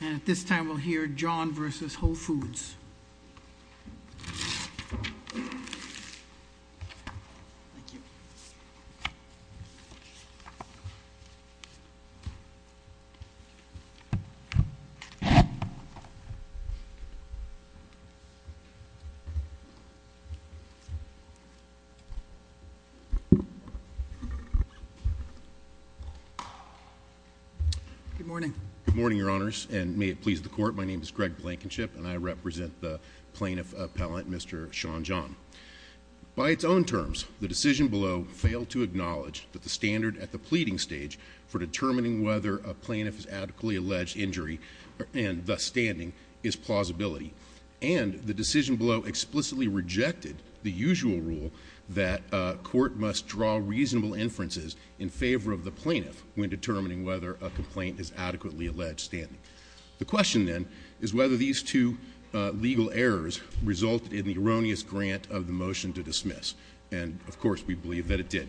And at this time we'll hear John v. Whole Foods. Good morning, your honors, and may it please the court, my name is Greg Blankenship and I represent the plaintiff appellant, Mr. Sean John. By its own terms, the decision below failed to acknowledge that the standard at the pleading stage for determining whether a plaintiff is adequately alleged injury and thus standing is plausibility. And the decision below explicitly rejected the usual rule that a court must draw reasonable inferences in favor of the plaintiff when determining whether a complaint is adequately alleged standing. The question, then, is whether these two legal errors resulted in the erroneous grant of the motion to dismiss, and of course we believe that it did.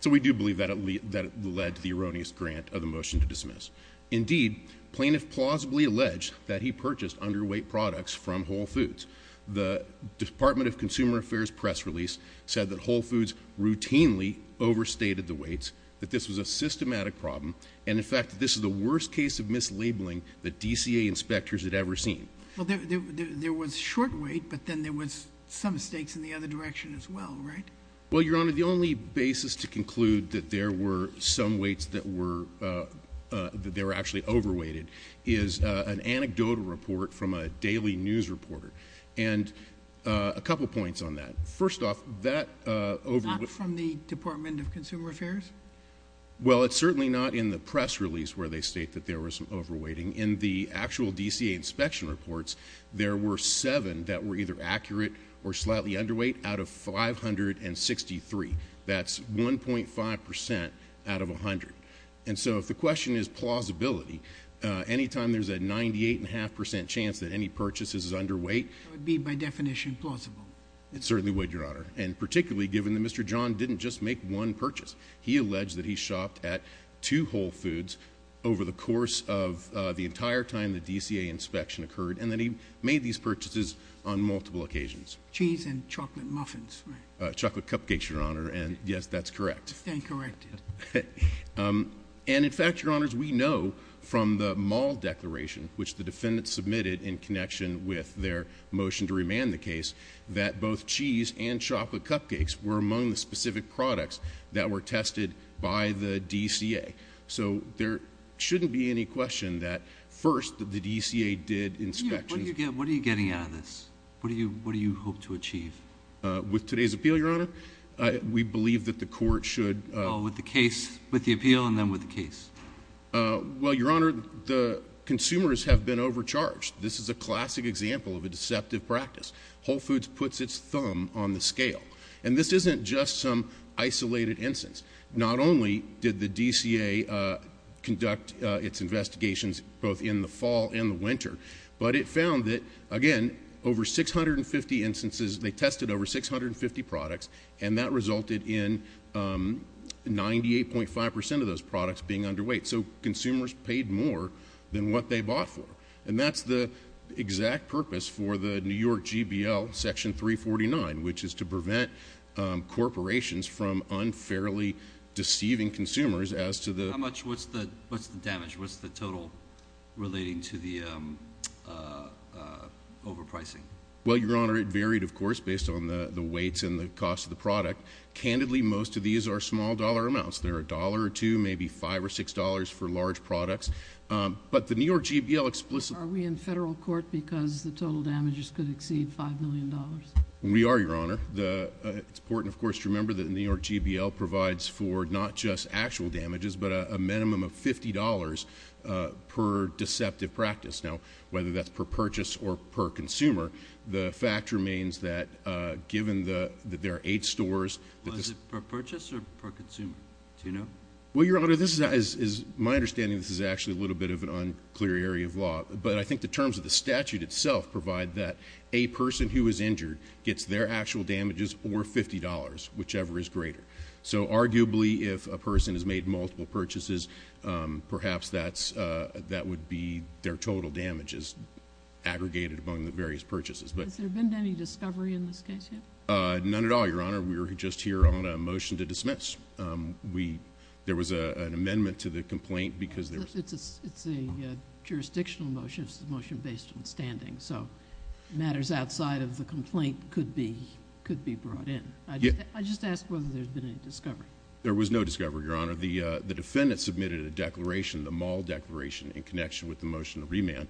So we do believe that it led to the erroneous grant of the motion to dismiss. Indeed, plaintiff plausibly alleged that he purchased underweight products from Whole Foods. The Department of Consumer Affairs press release said that Whole Foods routinely overstated the weights, that this was a systematic problem, and in fact that this is the worst case of mislabeling that DCA inspectors had ever seen. Well, there was short weight, but then there was some stakes in the other direction as well, right? Well, Your Honor, the only basis to conclude that there were some weights that were actually overweighted is an anecdotal report from a daily news reporter, and a couple of points on that. First off, that... Not from the Department of Consumer Affairs? Well, it's certainly not in the press release where they state that there was some overweighting. In the actual DCA inspection reports, there were seven that were either accurate or slightly underweight out of 563. That's 1.5 percent out of 100. And so if the question is plausibility, anytime there's a 98.5 percent chance that any purchase is underweight... That would be, by definition, plausible? It certainly would, Your Honor, and particularly given that Mr. John didn't just make one purchase. He alleged that he shopped at two Whole Foods over the course of the entire time the DCA inspection occurred, and that he made these purchases on multiple occasions. Cheese and chocolate muffins. Right. Chocolate cupcakes, Your Honor, and yes, that's correct. Incorrect. And in fact, Your Honors, we know from the mall declaration, which the defendant submitted in connection with their motion to remand the case, that both cheese and chocolate cupcakes were among the specific products that were tested by the DCA. So there shouldn't be any question that first, the DCA did inspections... What are you getting out of this? What do you hope to achieve? With today's appeal, Your Honor, we believe that the court should... Oh, with the case, with the appeal, and then with the case? Well, Your Honor, the consumers have been overcharged. This is a classic example of a deceptive practice. Whole Foods puts its thumb on the scale. And this isn't just some isolated instance. Not only did the DCA conduct its investigations both in the fall and the winter, but it found that, again, over 650 instances... they tested over 650 products, and that resulted in 98.5 percent of those products being underweight. So consumers paid more than what they bought for. And that's the exact purpose for the New York GBL Section 349, which is to prevent corporations from unfairly deceiving consumers as to the... How much? What's the damage? What's the total relating to the overpricing? Well, Your Honor, it varied, of course, based on the weights and the cost of the product. Candidly, most of these are small dollar amounts. They're a dollar or two, maybe five or six dollars for large products. But the New York GBL explicitly... Are we in federal court because the total damages could exceed $5 million? We are, Your Honor. It's important, of course, to remember that the New York GBL provides for not just actual damages, but a minimum of $50 per deceptive practice. Now, whether that's per purchase or per consumer, the fact remains that given that there are eight stores... Well, is it per purchase or per consumer? Do you know? Well, Your Honor, this is... my understanding of this is actually a little bit of an unclear area of law. But I think the terms of the statute itself provide that a person who is injured gets their actual damages or $50, whichever is greater. So arguably, if a person has made multiple purchases, perhaps that would be their total damages aggregated among the various purchases. Has there been any discovery in this case yet? None at all, Your Honor. We were just here on a motion to dismiss. There was an amendment to the complaint because... It's a jurisdictional motion. It's a motion based on standing. So matters outside of the complaint could be brought in. I just ask whether there's been any discovery. There was no discovery, Your Honor. The defendant submitted a declaration, the Maul Declaration, in connection with the motion of remand,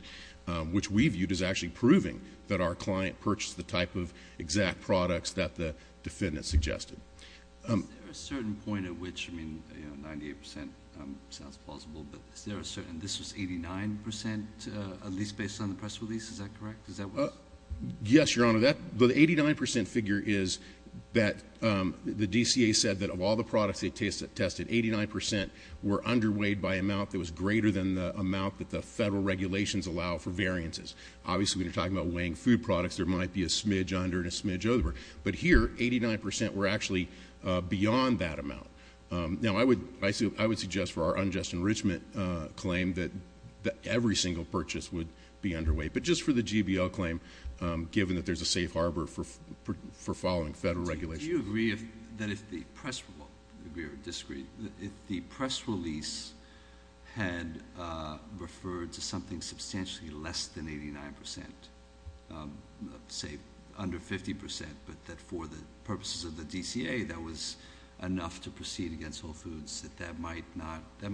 which we viewed as actually proving that our client purchased the type of exact products that the defendant suggested. Is there a certain point at which... I mean, 98% sounds plausible, but is there a certain... this was 89%, at least based on the press release, is that correct? Is that what... Yes, Your Honor. The 89% figure is that the DCA said that of all the products they tested, 89% were underweighed by an amount that was greater than the amount that the federal regulations allow for variances. Obviously, when you're talking about weighing food products, there might be a smidge under and a smidge over. But here, 89% were actually beyond that amount. Now I would suggest for our unjust enrichment claim that every single purchase would be a GBL claim, given that there's a safe harbor for following federal regulations. Do you agree that if the press... well, agree or disagree... if the press release had referred to something substantially less than 89%, say under 50%, but that for the purposes of the DCA, that was enough to proceed against Whole Foods, that that might not... that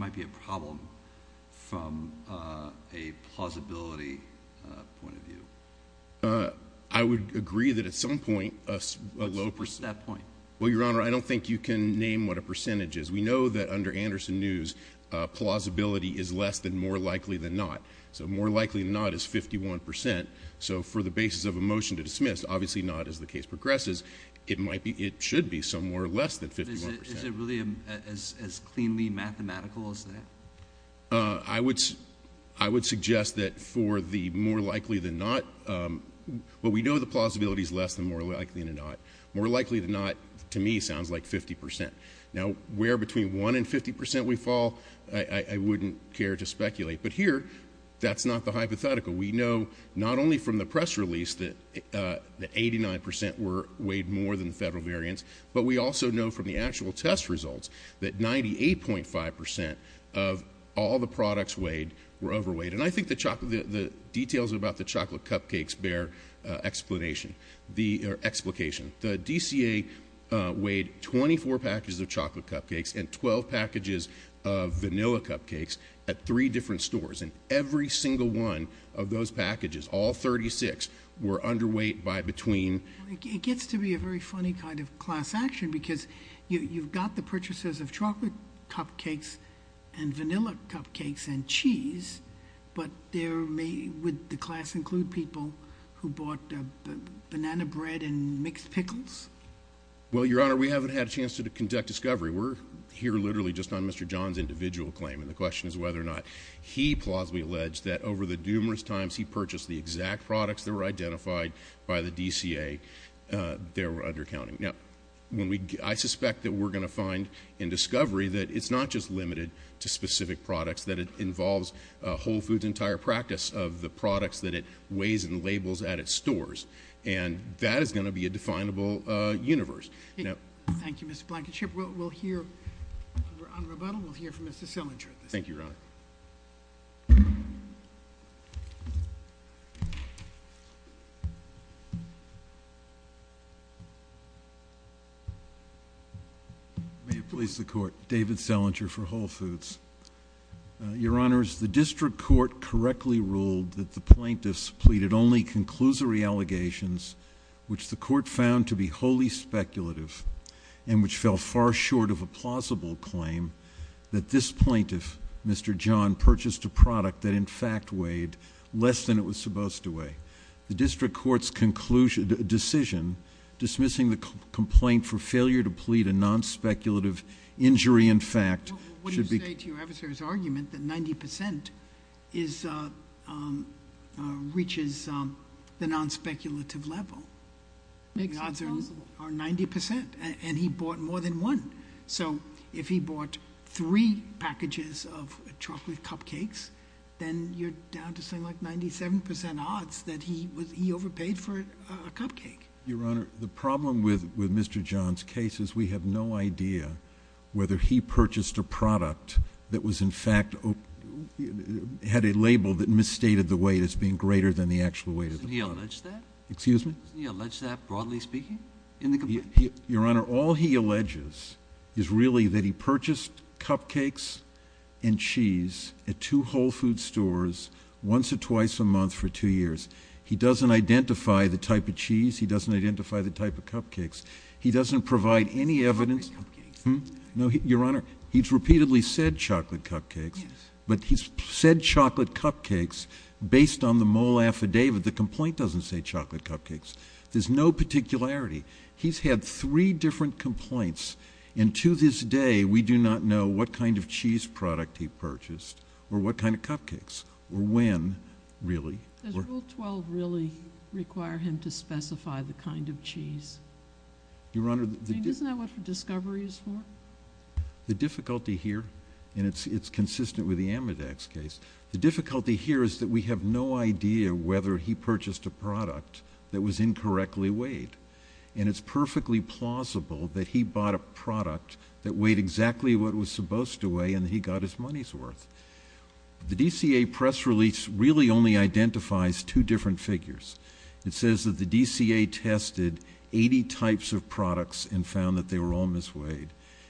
I would agree that at some point... What's that point? Well, Your Honor, I don't think you can name what a percentage is. We know that under Anderson News, plausibility is less than more likely than not. So more likely than not is 51%. So for the basis of a motion to dismiss, obviously not as the case progresses, it might be... it should be somewhere less than 51%. Is it really as cleanly mathematical as that? I would suggest that for the more likely than not... well, we know the plausibility is less than more likely than not. More likely than not, to me, sounds like 50%. Now where between 1 and 50% we fall, I wouldn't care to speculate. But here, that's not the hypothetical. We know not only from the press release that 89% weighed more than the federal variance, but we also know from the actual test results that 98.5% of all the products weighed were overweight. And I think the chocolate... the details about the chocolate cupcakes bear explanation. The... or explication. The DCA weighed 24 packages of chocolate cupcakes and 12 packages of vanilla cupcakes at three different stores. And every single one of those packages, all 36, were underweight by between... It gets to be a very funny kind of class action because you've got the purchases of chocolate cupcakes and vanilla cupcakes and cheese, but there may... would the class include people who bought banana bread and mixed pickles? Well, Your Honor, we haven't had a chance to conduct discovery. We're here literally just on Mr. John's individual claim. And the question is whether or not he plausibly alleged that over the numerous times he purchased the exact products that were identified by the DCA, they were undercounting. Now, when we... I suspect that we're going to find in discovery that it's not just limited to specific products, that it involves Whole Foods' entire practice of the products that it weighs and labels at its stores. And that is going to be a definable universe. Thank you, Mr. Blankenship. We'll hear... on rebuttal, we'll hear from Mr. Selinger. Thank you, Your Honor. May it please the Court. David Selinger for Whole Foods. Your Honors, the district court correctly ruled that the plaintiffs pleaded only conclusory allegations, which the court found to be wholly speculative and which fell far short of a plausible claim that this plaintiff, Mr. Blankenship, was supposed to weigh. The district court's conclusion... decision dismissing the complaint for failure to plead a non-speculative injury in fact... Well, what do you say to your adversary's argument that 90% reaches the non-speculative level? The odds are 90% and he bought more than one. So, if he bought three packages of chocolate cupcakes, then you're down to something like 97% odds that he overpaid for a cupcake. Your Honor, the problem with Mr. John's case is we have no idea whether he purchased a product that was in fact... had a label that misstated the weight as being greater than the actual weight of the product. Didn't he allege that? Excuse me? Didn't he allege that, broadly speaking, in the complaint? Your Honor, all he alleges is really that he purchased cupcakes and cheese at two Whole Foods stores once or twice a month for two years. He doesn't identify the type of cheese. He doesn't identify the type of cupcakes. He doesn't provide any evidence... Chocolate cupcakes. No, Your Honor. He's repeatedly said chocolate cupcakes, but he's said chocolate cupcakes based on the mole affidavit. The complaint doesn't say chocolate cupcakes. There's no particularity. He's had three different complaints, and to this day, we do not know what kind of cheese product he purchased or what kind of cupcakes or when, really. Does Rule 12 really require him to specify the kind of cheese? Your Honor, the... I mean, isn't that what the discovery is for? The difficulty here, and it's consistent with the Amidex case, the difficulty here is that we have no idea whether he purchased a product that was incorrectly weighed. And it's perfectly plausible that he bought a product that weighed exactly what it was supposed to weigh and he got his money's worth. The DCA press release really only identifies two different figures. It says that the DCA tested 80 types of products and found that they were all misweighed.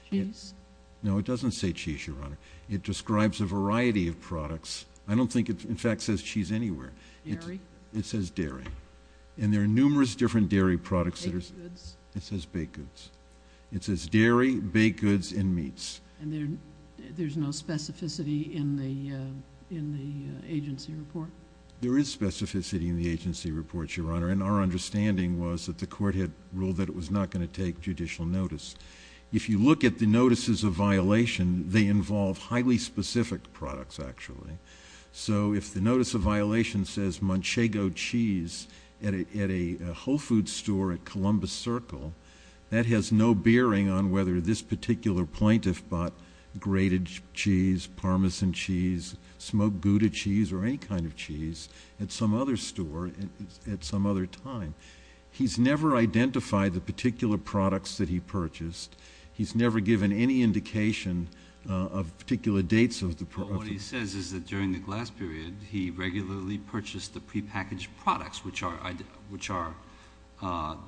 Cheese? No, it doesn't say cheese, Your Honor. It describes a variety of products. I don't think it, in fact, says cheese anywhere. Dairy? It says dairy. And there are numerous different dairy products that are... Baked goods? It says baked goods. It says dairy, baked goods, and meats. And there's no specificity in the agency report? There is specificity in the agency report, Your Honor, and our understanding was that the court had ruled that it was not going to take judicial notice. If you look at the notices of violation, they involve highly specific products, actually. So if the notice of violation says Manchego cheese at a Whole Foods store at Columbus Circle, that has no bearing on whether this particular plaintiff bought grated cheese, Parmesan cheese, smoked Gouda cheese, or any kind of cheese at some other store at some other time. He's never identified the particular products that he purchased. He's never given any indication of particular dates of the... What it says is that during the glass period, he regularly purchased the prepackaged products, which are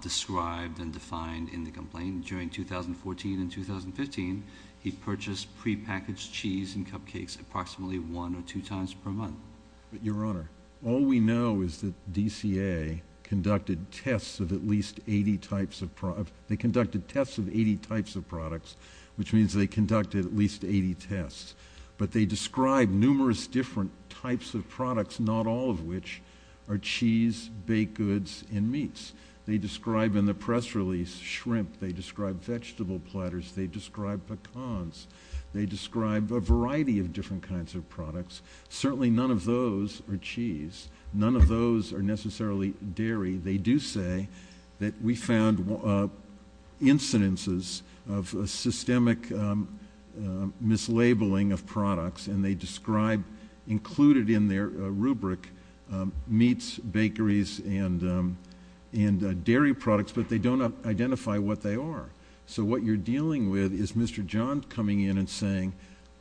described and defined in the complaint. During 2014 and 2015, he purchased prepackaged cheese and cupcakes approximately one or two times per month. But, Your Honor, all we know is that DCA conducted tests of at least 80 types of... They conducted tests of 80 types of products, which means they conducted at least 80 tests. But they described numerous different types of products, not all of which are cheese, baked goods, and meats. They describe, in the press release, shrimp. They describe vegetable platters. They describe pecans. They describe a variety of different kinds of products. Certainly none of those are cheese. None of those are necessarily dairy. They do say that we found incidences of a systemic mislabeling of products, and they describe included in their rubric, meats, bakeries, and dairy products, but they don't identify what they are. So, what you're dealing with is Mr. John coming in and saying,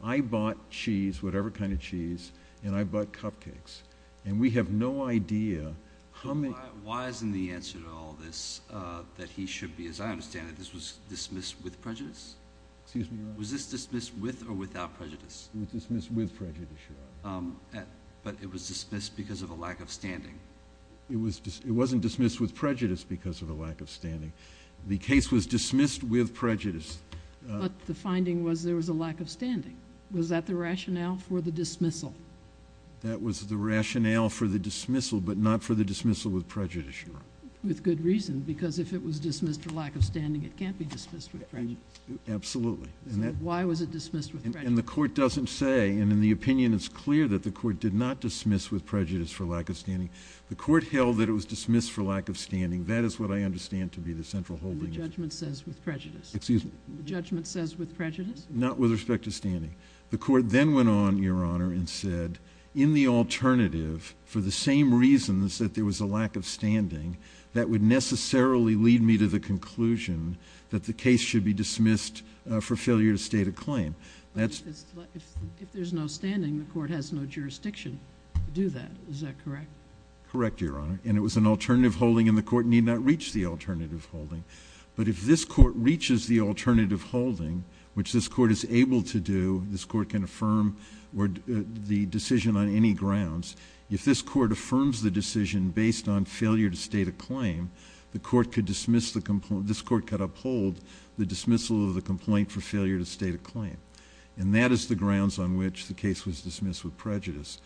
I bought cheese, whatever kind of cheese, and I bought cupcakes. And we have no idea how many... Why isn't the answer to all this that he should be, as I understand it, this was dismissed with prejudice? Excuse me, your Honor. Was this dismissed with or without prejudice? It was dismissed with prejudice, your Honor. It was dismissed because of a lack of standing? It wasn't dismissed with prejudice because of a lack of standing. The case was dismissed with prejudice. But the finding was there was a lack of standing, was that the rationale for the dismissal? That was the rationale for the dismissal, but not for the dismissal with prejudice, your Honor. With good reason, because if it was dismissed for lack of Absolutely. So why was it dismissed with prejudice? And the court doesn't say, and in the opinion it's clear that the court did not dismiss with prejudice for lack of standing. The court held that it was dismissed for lack of standing. That is what I understand to be the central holding. And the judgment says with prejudice? Excuse me? The judgment says with prejudice? Not with respect to standing. The court then went on, your Honor, and said, in the alternative, for the same reasons that there was a lack of standing, that would necessarily lead me to the conclusion that the case should be dismissed for failure to state a claim. But if there's no standing, the court has no jurisdiction to do that, is that correct? Correct, your Honor. And it was an alternative holding, and the court need not reach the alternative holding. But if this court reaches the alternative holding, which this court is able to do, this court can affirm the decision on any grounds. If this court affirms the decision based on failure to state a claim, the court could this court could uphold the dismissal of the complaint for failure to state a claim. And that is the grounds on which the case was dismissed with prejudice.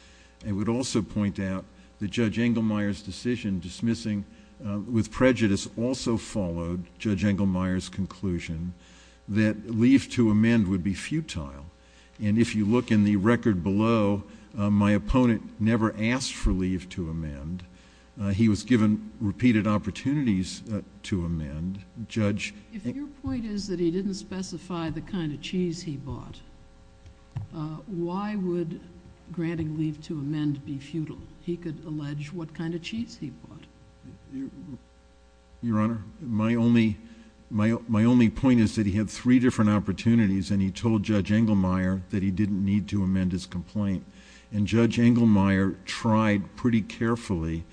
I would also point out that Judge Engelmeyer's decision dismissing with prejudice also followed Judge Engelmeyer's conclusion that leave to amend would be futile. And if you look in the record below, my opponent never asked for leave to amend. He was given repeated opportunities to amend. Judge... If your point is that he didn't specify the kind of cheese he bought, why would granting leave to amend be futile? He could allege what kind of cheese he bought. Your Honor, my only point is that he had three different opportunities, and he told Judge Engelmeyer that he didn't need to amend his complaint. And Judge Engelmeyer tried pretty carefully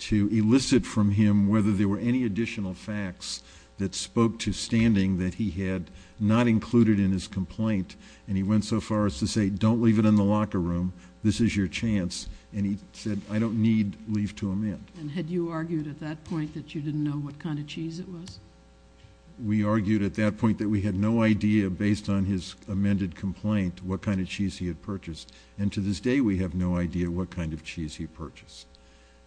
to elicit from him whether there were any additional facts that spoke to standing that he had not included in his complaint. And he went so far as to say, don't leave it in the locker room. This is your chance. And he said, I don't need leave to amend. And had you argued at that point that you didn't know what kind of cheese it was? We argued at that point that we had no idea, based on his amended complaint, what kind of cheese he had purchased. And to this day, we have no idea what kind of cheese he purchased.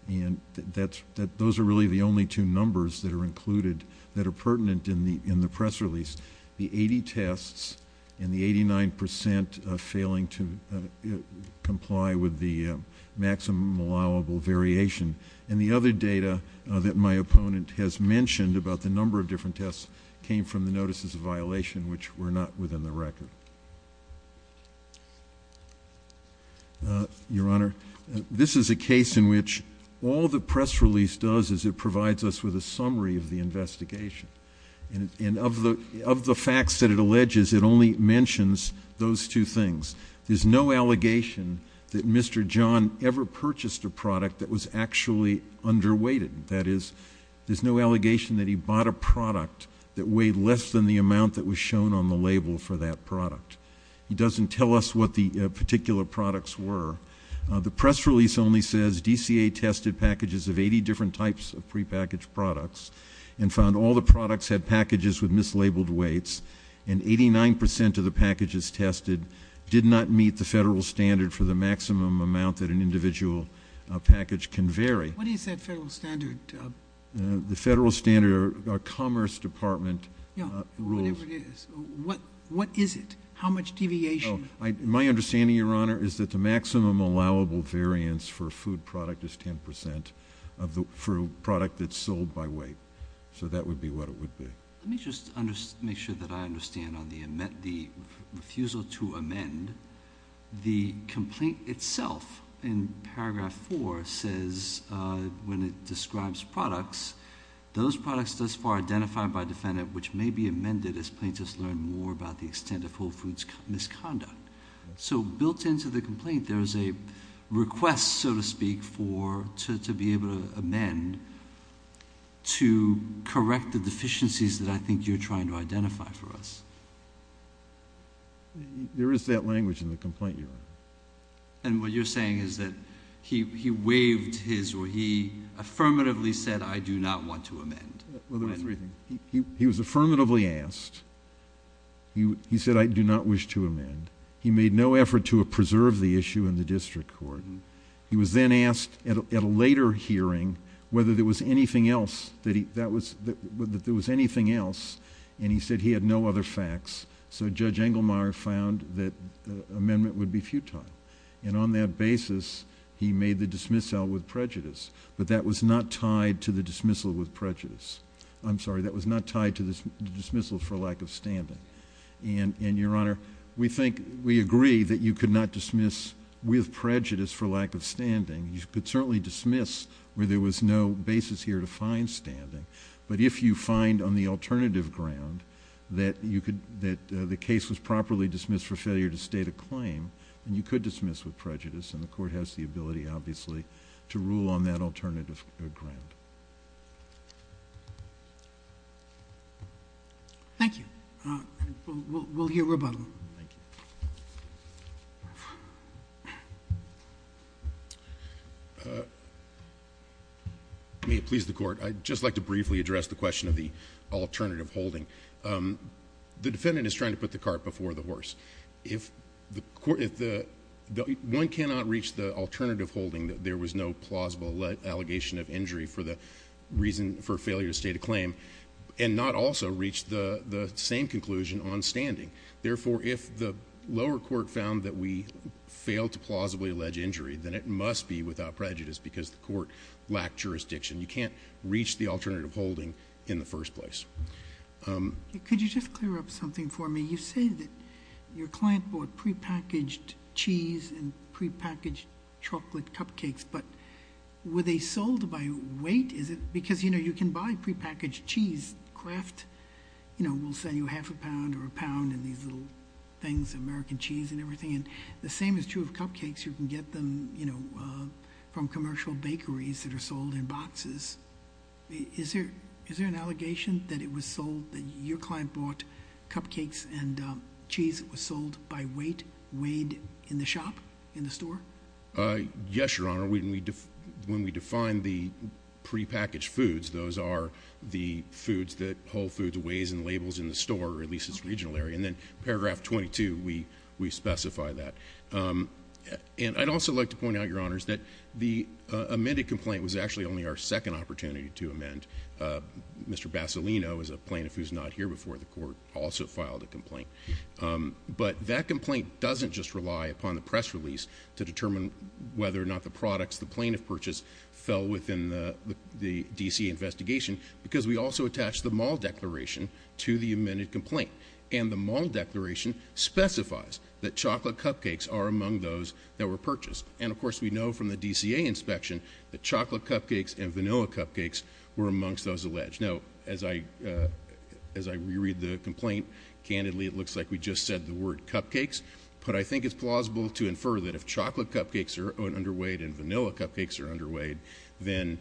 And that's... those are really the only two numbers that are included that are pertinent in the press release. The 80 tests and the 89 percent failing to comply with the maximum allowable variation and the other data that my opponent has mentioned about the number of different tests came from the notices of violation, which were not within the record. Your Honor, this is a case in which all the press release does is it provides us with a summary of the investigation. And of the facts that it alleges, it only mentions those two things. There's no allegation that Mr. John ever purchased a product that was actually underweighted. That is, there's no allegation that he bought a product that weighed less than the amount that was shown on the label for that product. He doesn't tell us what the particular products were. The press release only says DCA tested packages of 80 different types of prepackaged products and found all the products had packages with mislabeled weights, and 89 percent of the packages tested did not meet the federal standard for the maximum amount that an individual package can vary. What is that federal standard? The federal standard, our Commerce Department rules. Yeah, whatever it is. What is it? How much deviation? My understanding, Your Honor, is that the maximum allowable variance for a food product is 10 percent for a product that's sold by weight. So that would be what it would be. Let me just make sure that I understand on the refusal to amend. The complaint itself in paragraph four says, when it describes products, those products thus far identified by defendant which may be amended as plaintiffs learn more about the extent of Whole Foods' misconduct. So built into the complaint, there is a request, so to speak, to be able to amend to correct the deficiencies that I think you're trying to identify for us. There is that language in the complaint, Your Honor. And what you're saying is that he waived his or he affirmatively said, I do not want to amend. Well, there are three things. He was affirmatively asked. He said, I do not wish to amend. He made no effort to preserve the issue in the district court. He was then asked at a later hearing whether there was anything else and he said he had no other facts. So Judge Engelmeyer found that the amendment would be futile. And on that basis, he made the dismissal with prejudice, but that was not tied to the dismissal with prejudice. I'm sorry, that was not tied to the dismissal for lack of standing. And Your Honor, we think, we agree that you could not dismiss with prejudice for lack of standing. You could certainly dismiss where there was no basis here to find standing. But if you find on the alternative ground that the case was properly dismissed for failure to state a claim, then you could dismiss with prejudice and the court has the ability, obviously, to rule on that alternative ground. Thank you. We'll hear rebuttal. Thank you. May it please the Court. I'd just like to briefly address the question of the alternative holding. The defendant is trying to put the cart before the horse. One cannot reach the alternative holding that there was no plausible allegation of injury for the reason for failure to state a claim and not also reach the same conclusion on standing. Therefore, if the lower court found that we failed to plausibly allege injury, then it must be without prejudice because the court lacked jurisdiction. You can't reach the alternative holding in the first place. Could you just clear up something for me? You say that your client bought prepackaged cheese and prepackaged chocolate cupcakes, but were they sold by weight? Is it because, you know, you can buy prepackaged cheese, Kraft, you know, will sell you a half a pound or a pound and these little things, American cheese and everything, and the same is true of cupcakes. You can get them, you know, from commercial bakeries that are sold in boxes. Is there an allegation that it was sold, that your client bought cupcakes and cheese that was sold by weight, weighed in the shop, in the store? Yes, Your Honor. When we define the prepackaged foods, those are the foods that Whole Foods weighs and labels in the store, or at least its regional area. And then paragraph 22, we specify that. And I'd also like to point out, Your Honors, that the amended complaint was actually only our second opportunity to amend. Mr. Bassolino, as a plaintiff who's not here before the court, also filed a complaint. But that complaint doesn't just rely upon the press release to determine whether or not the products the plaintiff purchased fell within the D.C. investigation because we also attached the mall declaration to the amended complaint, and the mall declaration specifies that chocolate cupcakes are among those that were purchased. And of course, we know from the D.C.A. inspection that chocolate cupcakes and vanilla cupcakes were amongst those alleged. Now, as I reread the complaint, candidly, it looks like we just said the word cupcakes, but I think it's plausible to infer that if chocolate cupcakes are underweight and vanilla cupcakes are underweight, then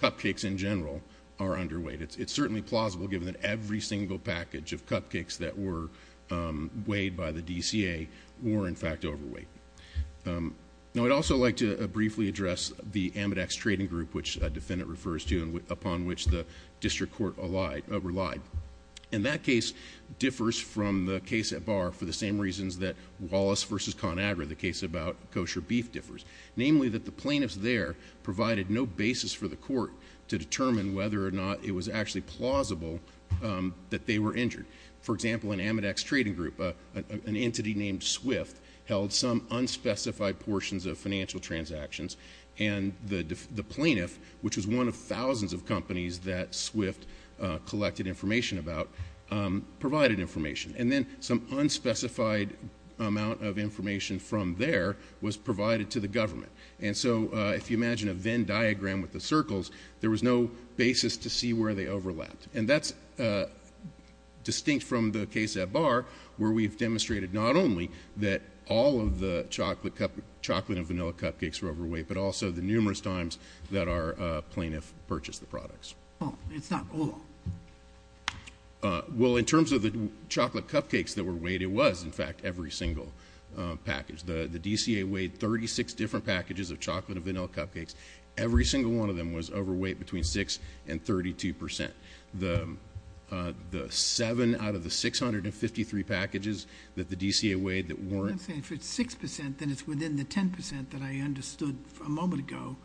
cupcakes in general are underweight. It's certainly plausible, given that every single package of cupcakes that were weighed by the D.C.A. were, in fact, overweight. Now, I'd also like to briefly address the Amidex Trading Group, which a defendant refers to and upon which the district court relied. And that case differs from the case at Barr for the same reasons that Wallace v. ConAgra, the case about kosher beef, differs, namely that the plaintiffs there provided no basis for the court to determine whether or not it was actually plausible that they were injured. For example, in Amidex Trading Group, an entity named SWIFT held some unspecified portions of financial transactions, and the plaintiff, which was one of thousands of companies that SWIFT collected information about, provided information. And then some unspecified amount of information from there was provided to the government. And so, if you imagine a Venn diagram with the circles, there was no basis to see where they overlapped. And that's distinct from the case at Barr, where we've demonstrated not only that all of the chocolate and vanilla cupcakes were overweight, but also the numerous times that our plaintiff purchased the products. Oh, it's not all. Well, in terms of the chocolate cupcakes that were weighed, it was, in fact, every single package. The DCA weighed 36 different packages of chocolate and vanilla cupcakes. Every single one of them was overweight between 6 and 32 percent. The 7 out of the 653 packages that the DCA weighed that weren't- I'm saying if it's 6 percent, then it's within the 10 percent that I understood a moment ago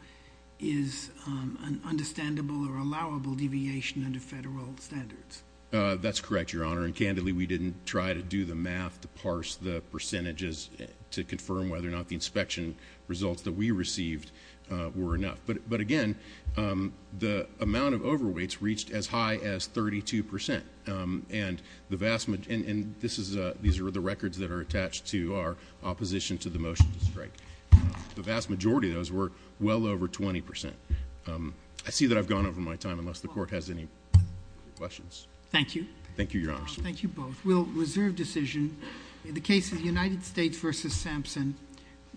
is an understandable or allowable deviation under federal standards. That's correct, Your Honor. And, candidly, we didn't try to do the math to parse the percentages to confirm whether or not the inspection results that we received were enough. But again, the amount of overweights reached as high as 32 percent. And these are the records that are attached to our opposition to the motion to strike. The vast majority of those were well over 20 percent. I see that I've gone over my time, unless the Court has any questions. Thank you. Thank you, Your Honors. Thank you both. We'll reserve decision. In the case of the United States v. Sampson,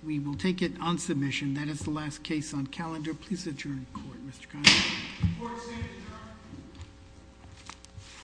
we will take it on submission. That is the last case on calendar. Please adjourn the Court, Mr. Connolly.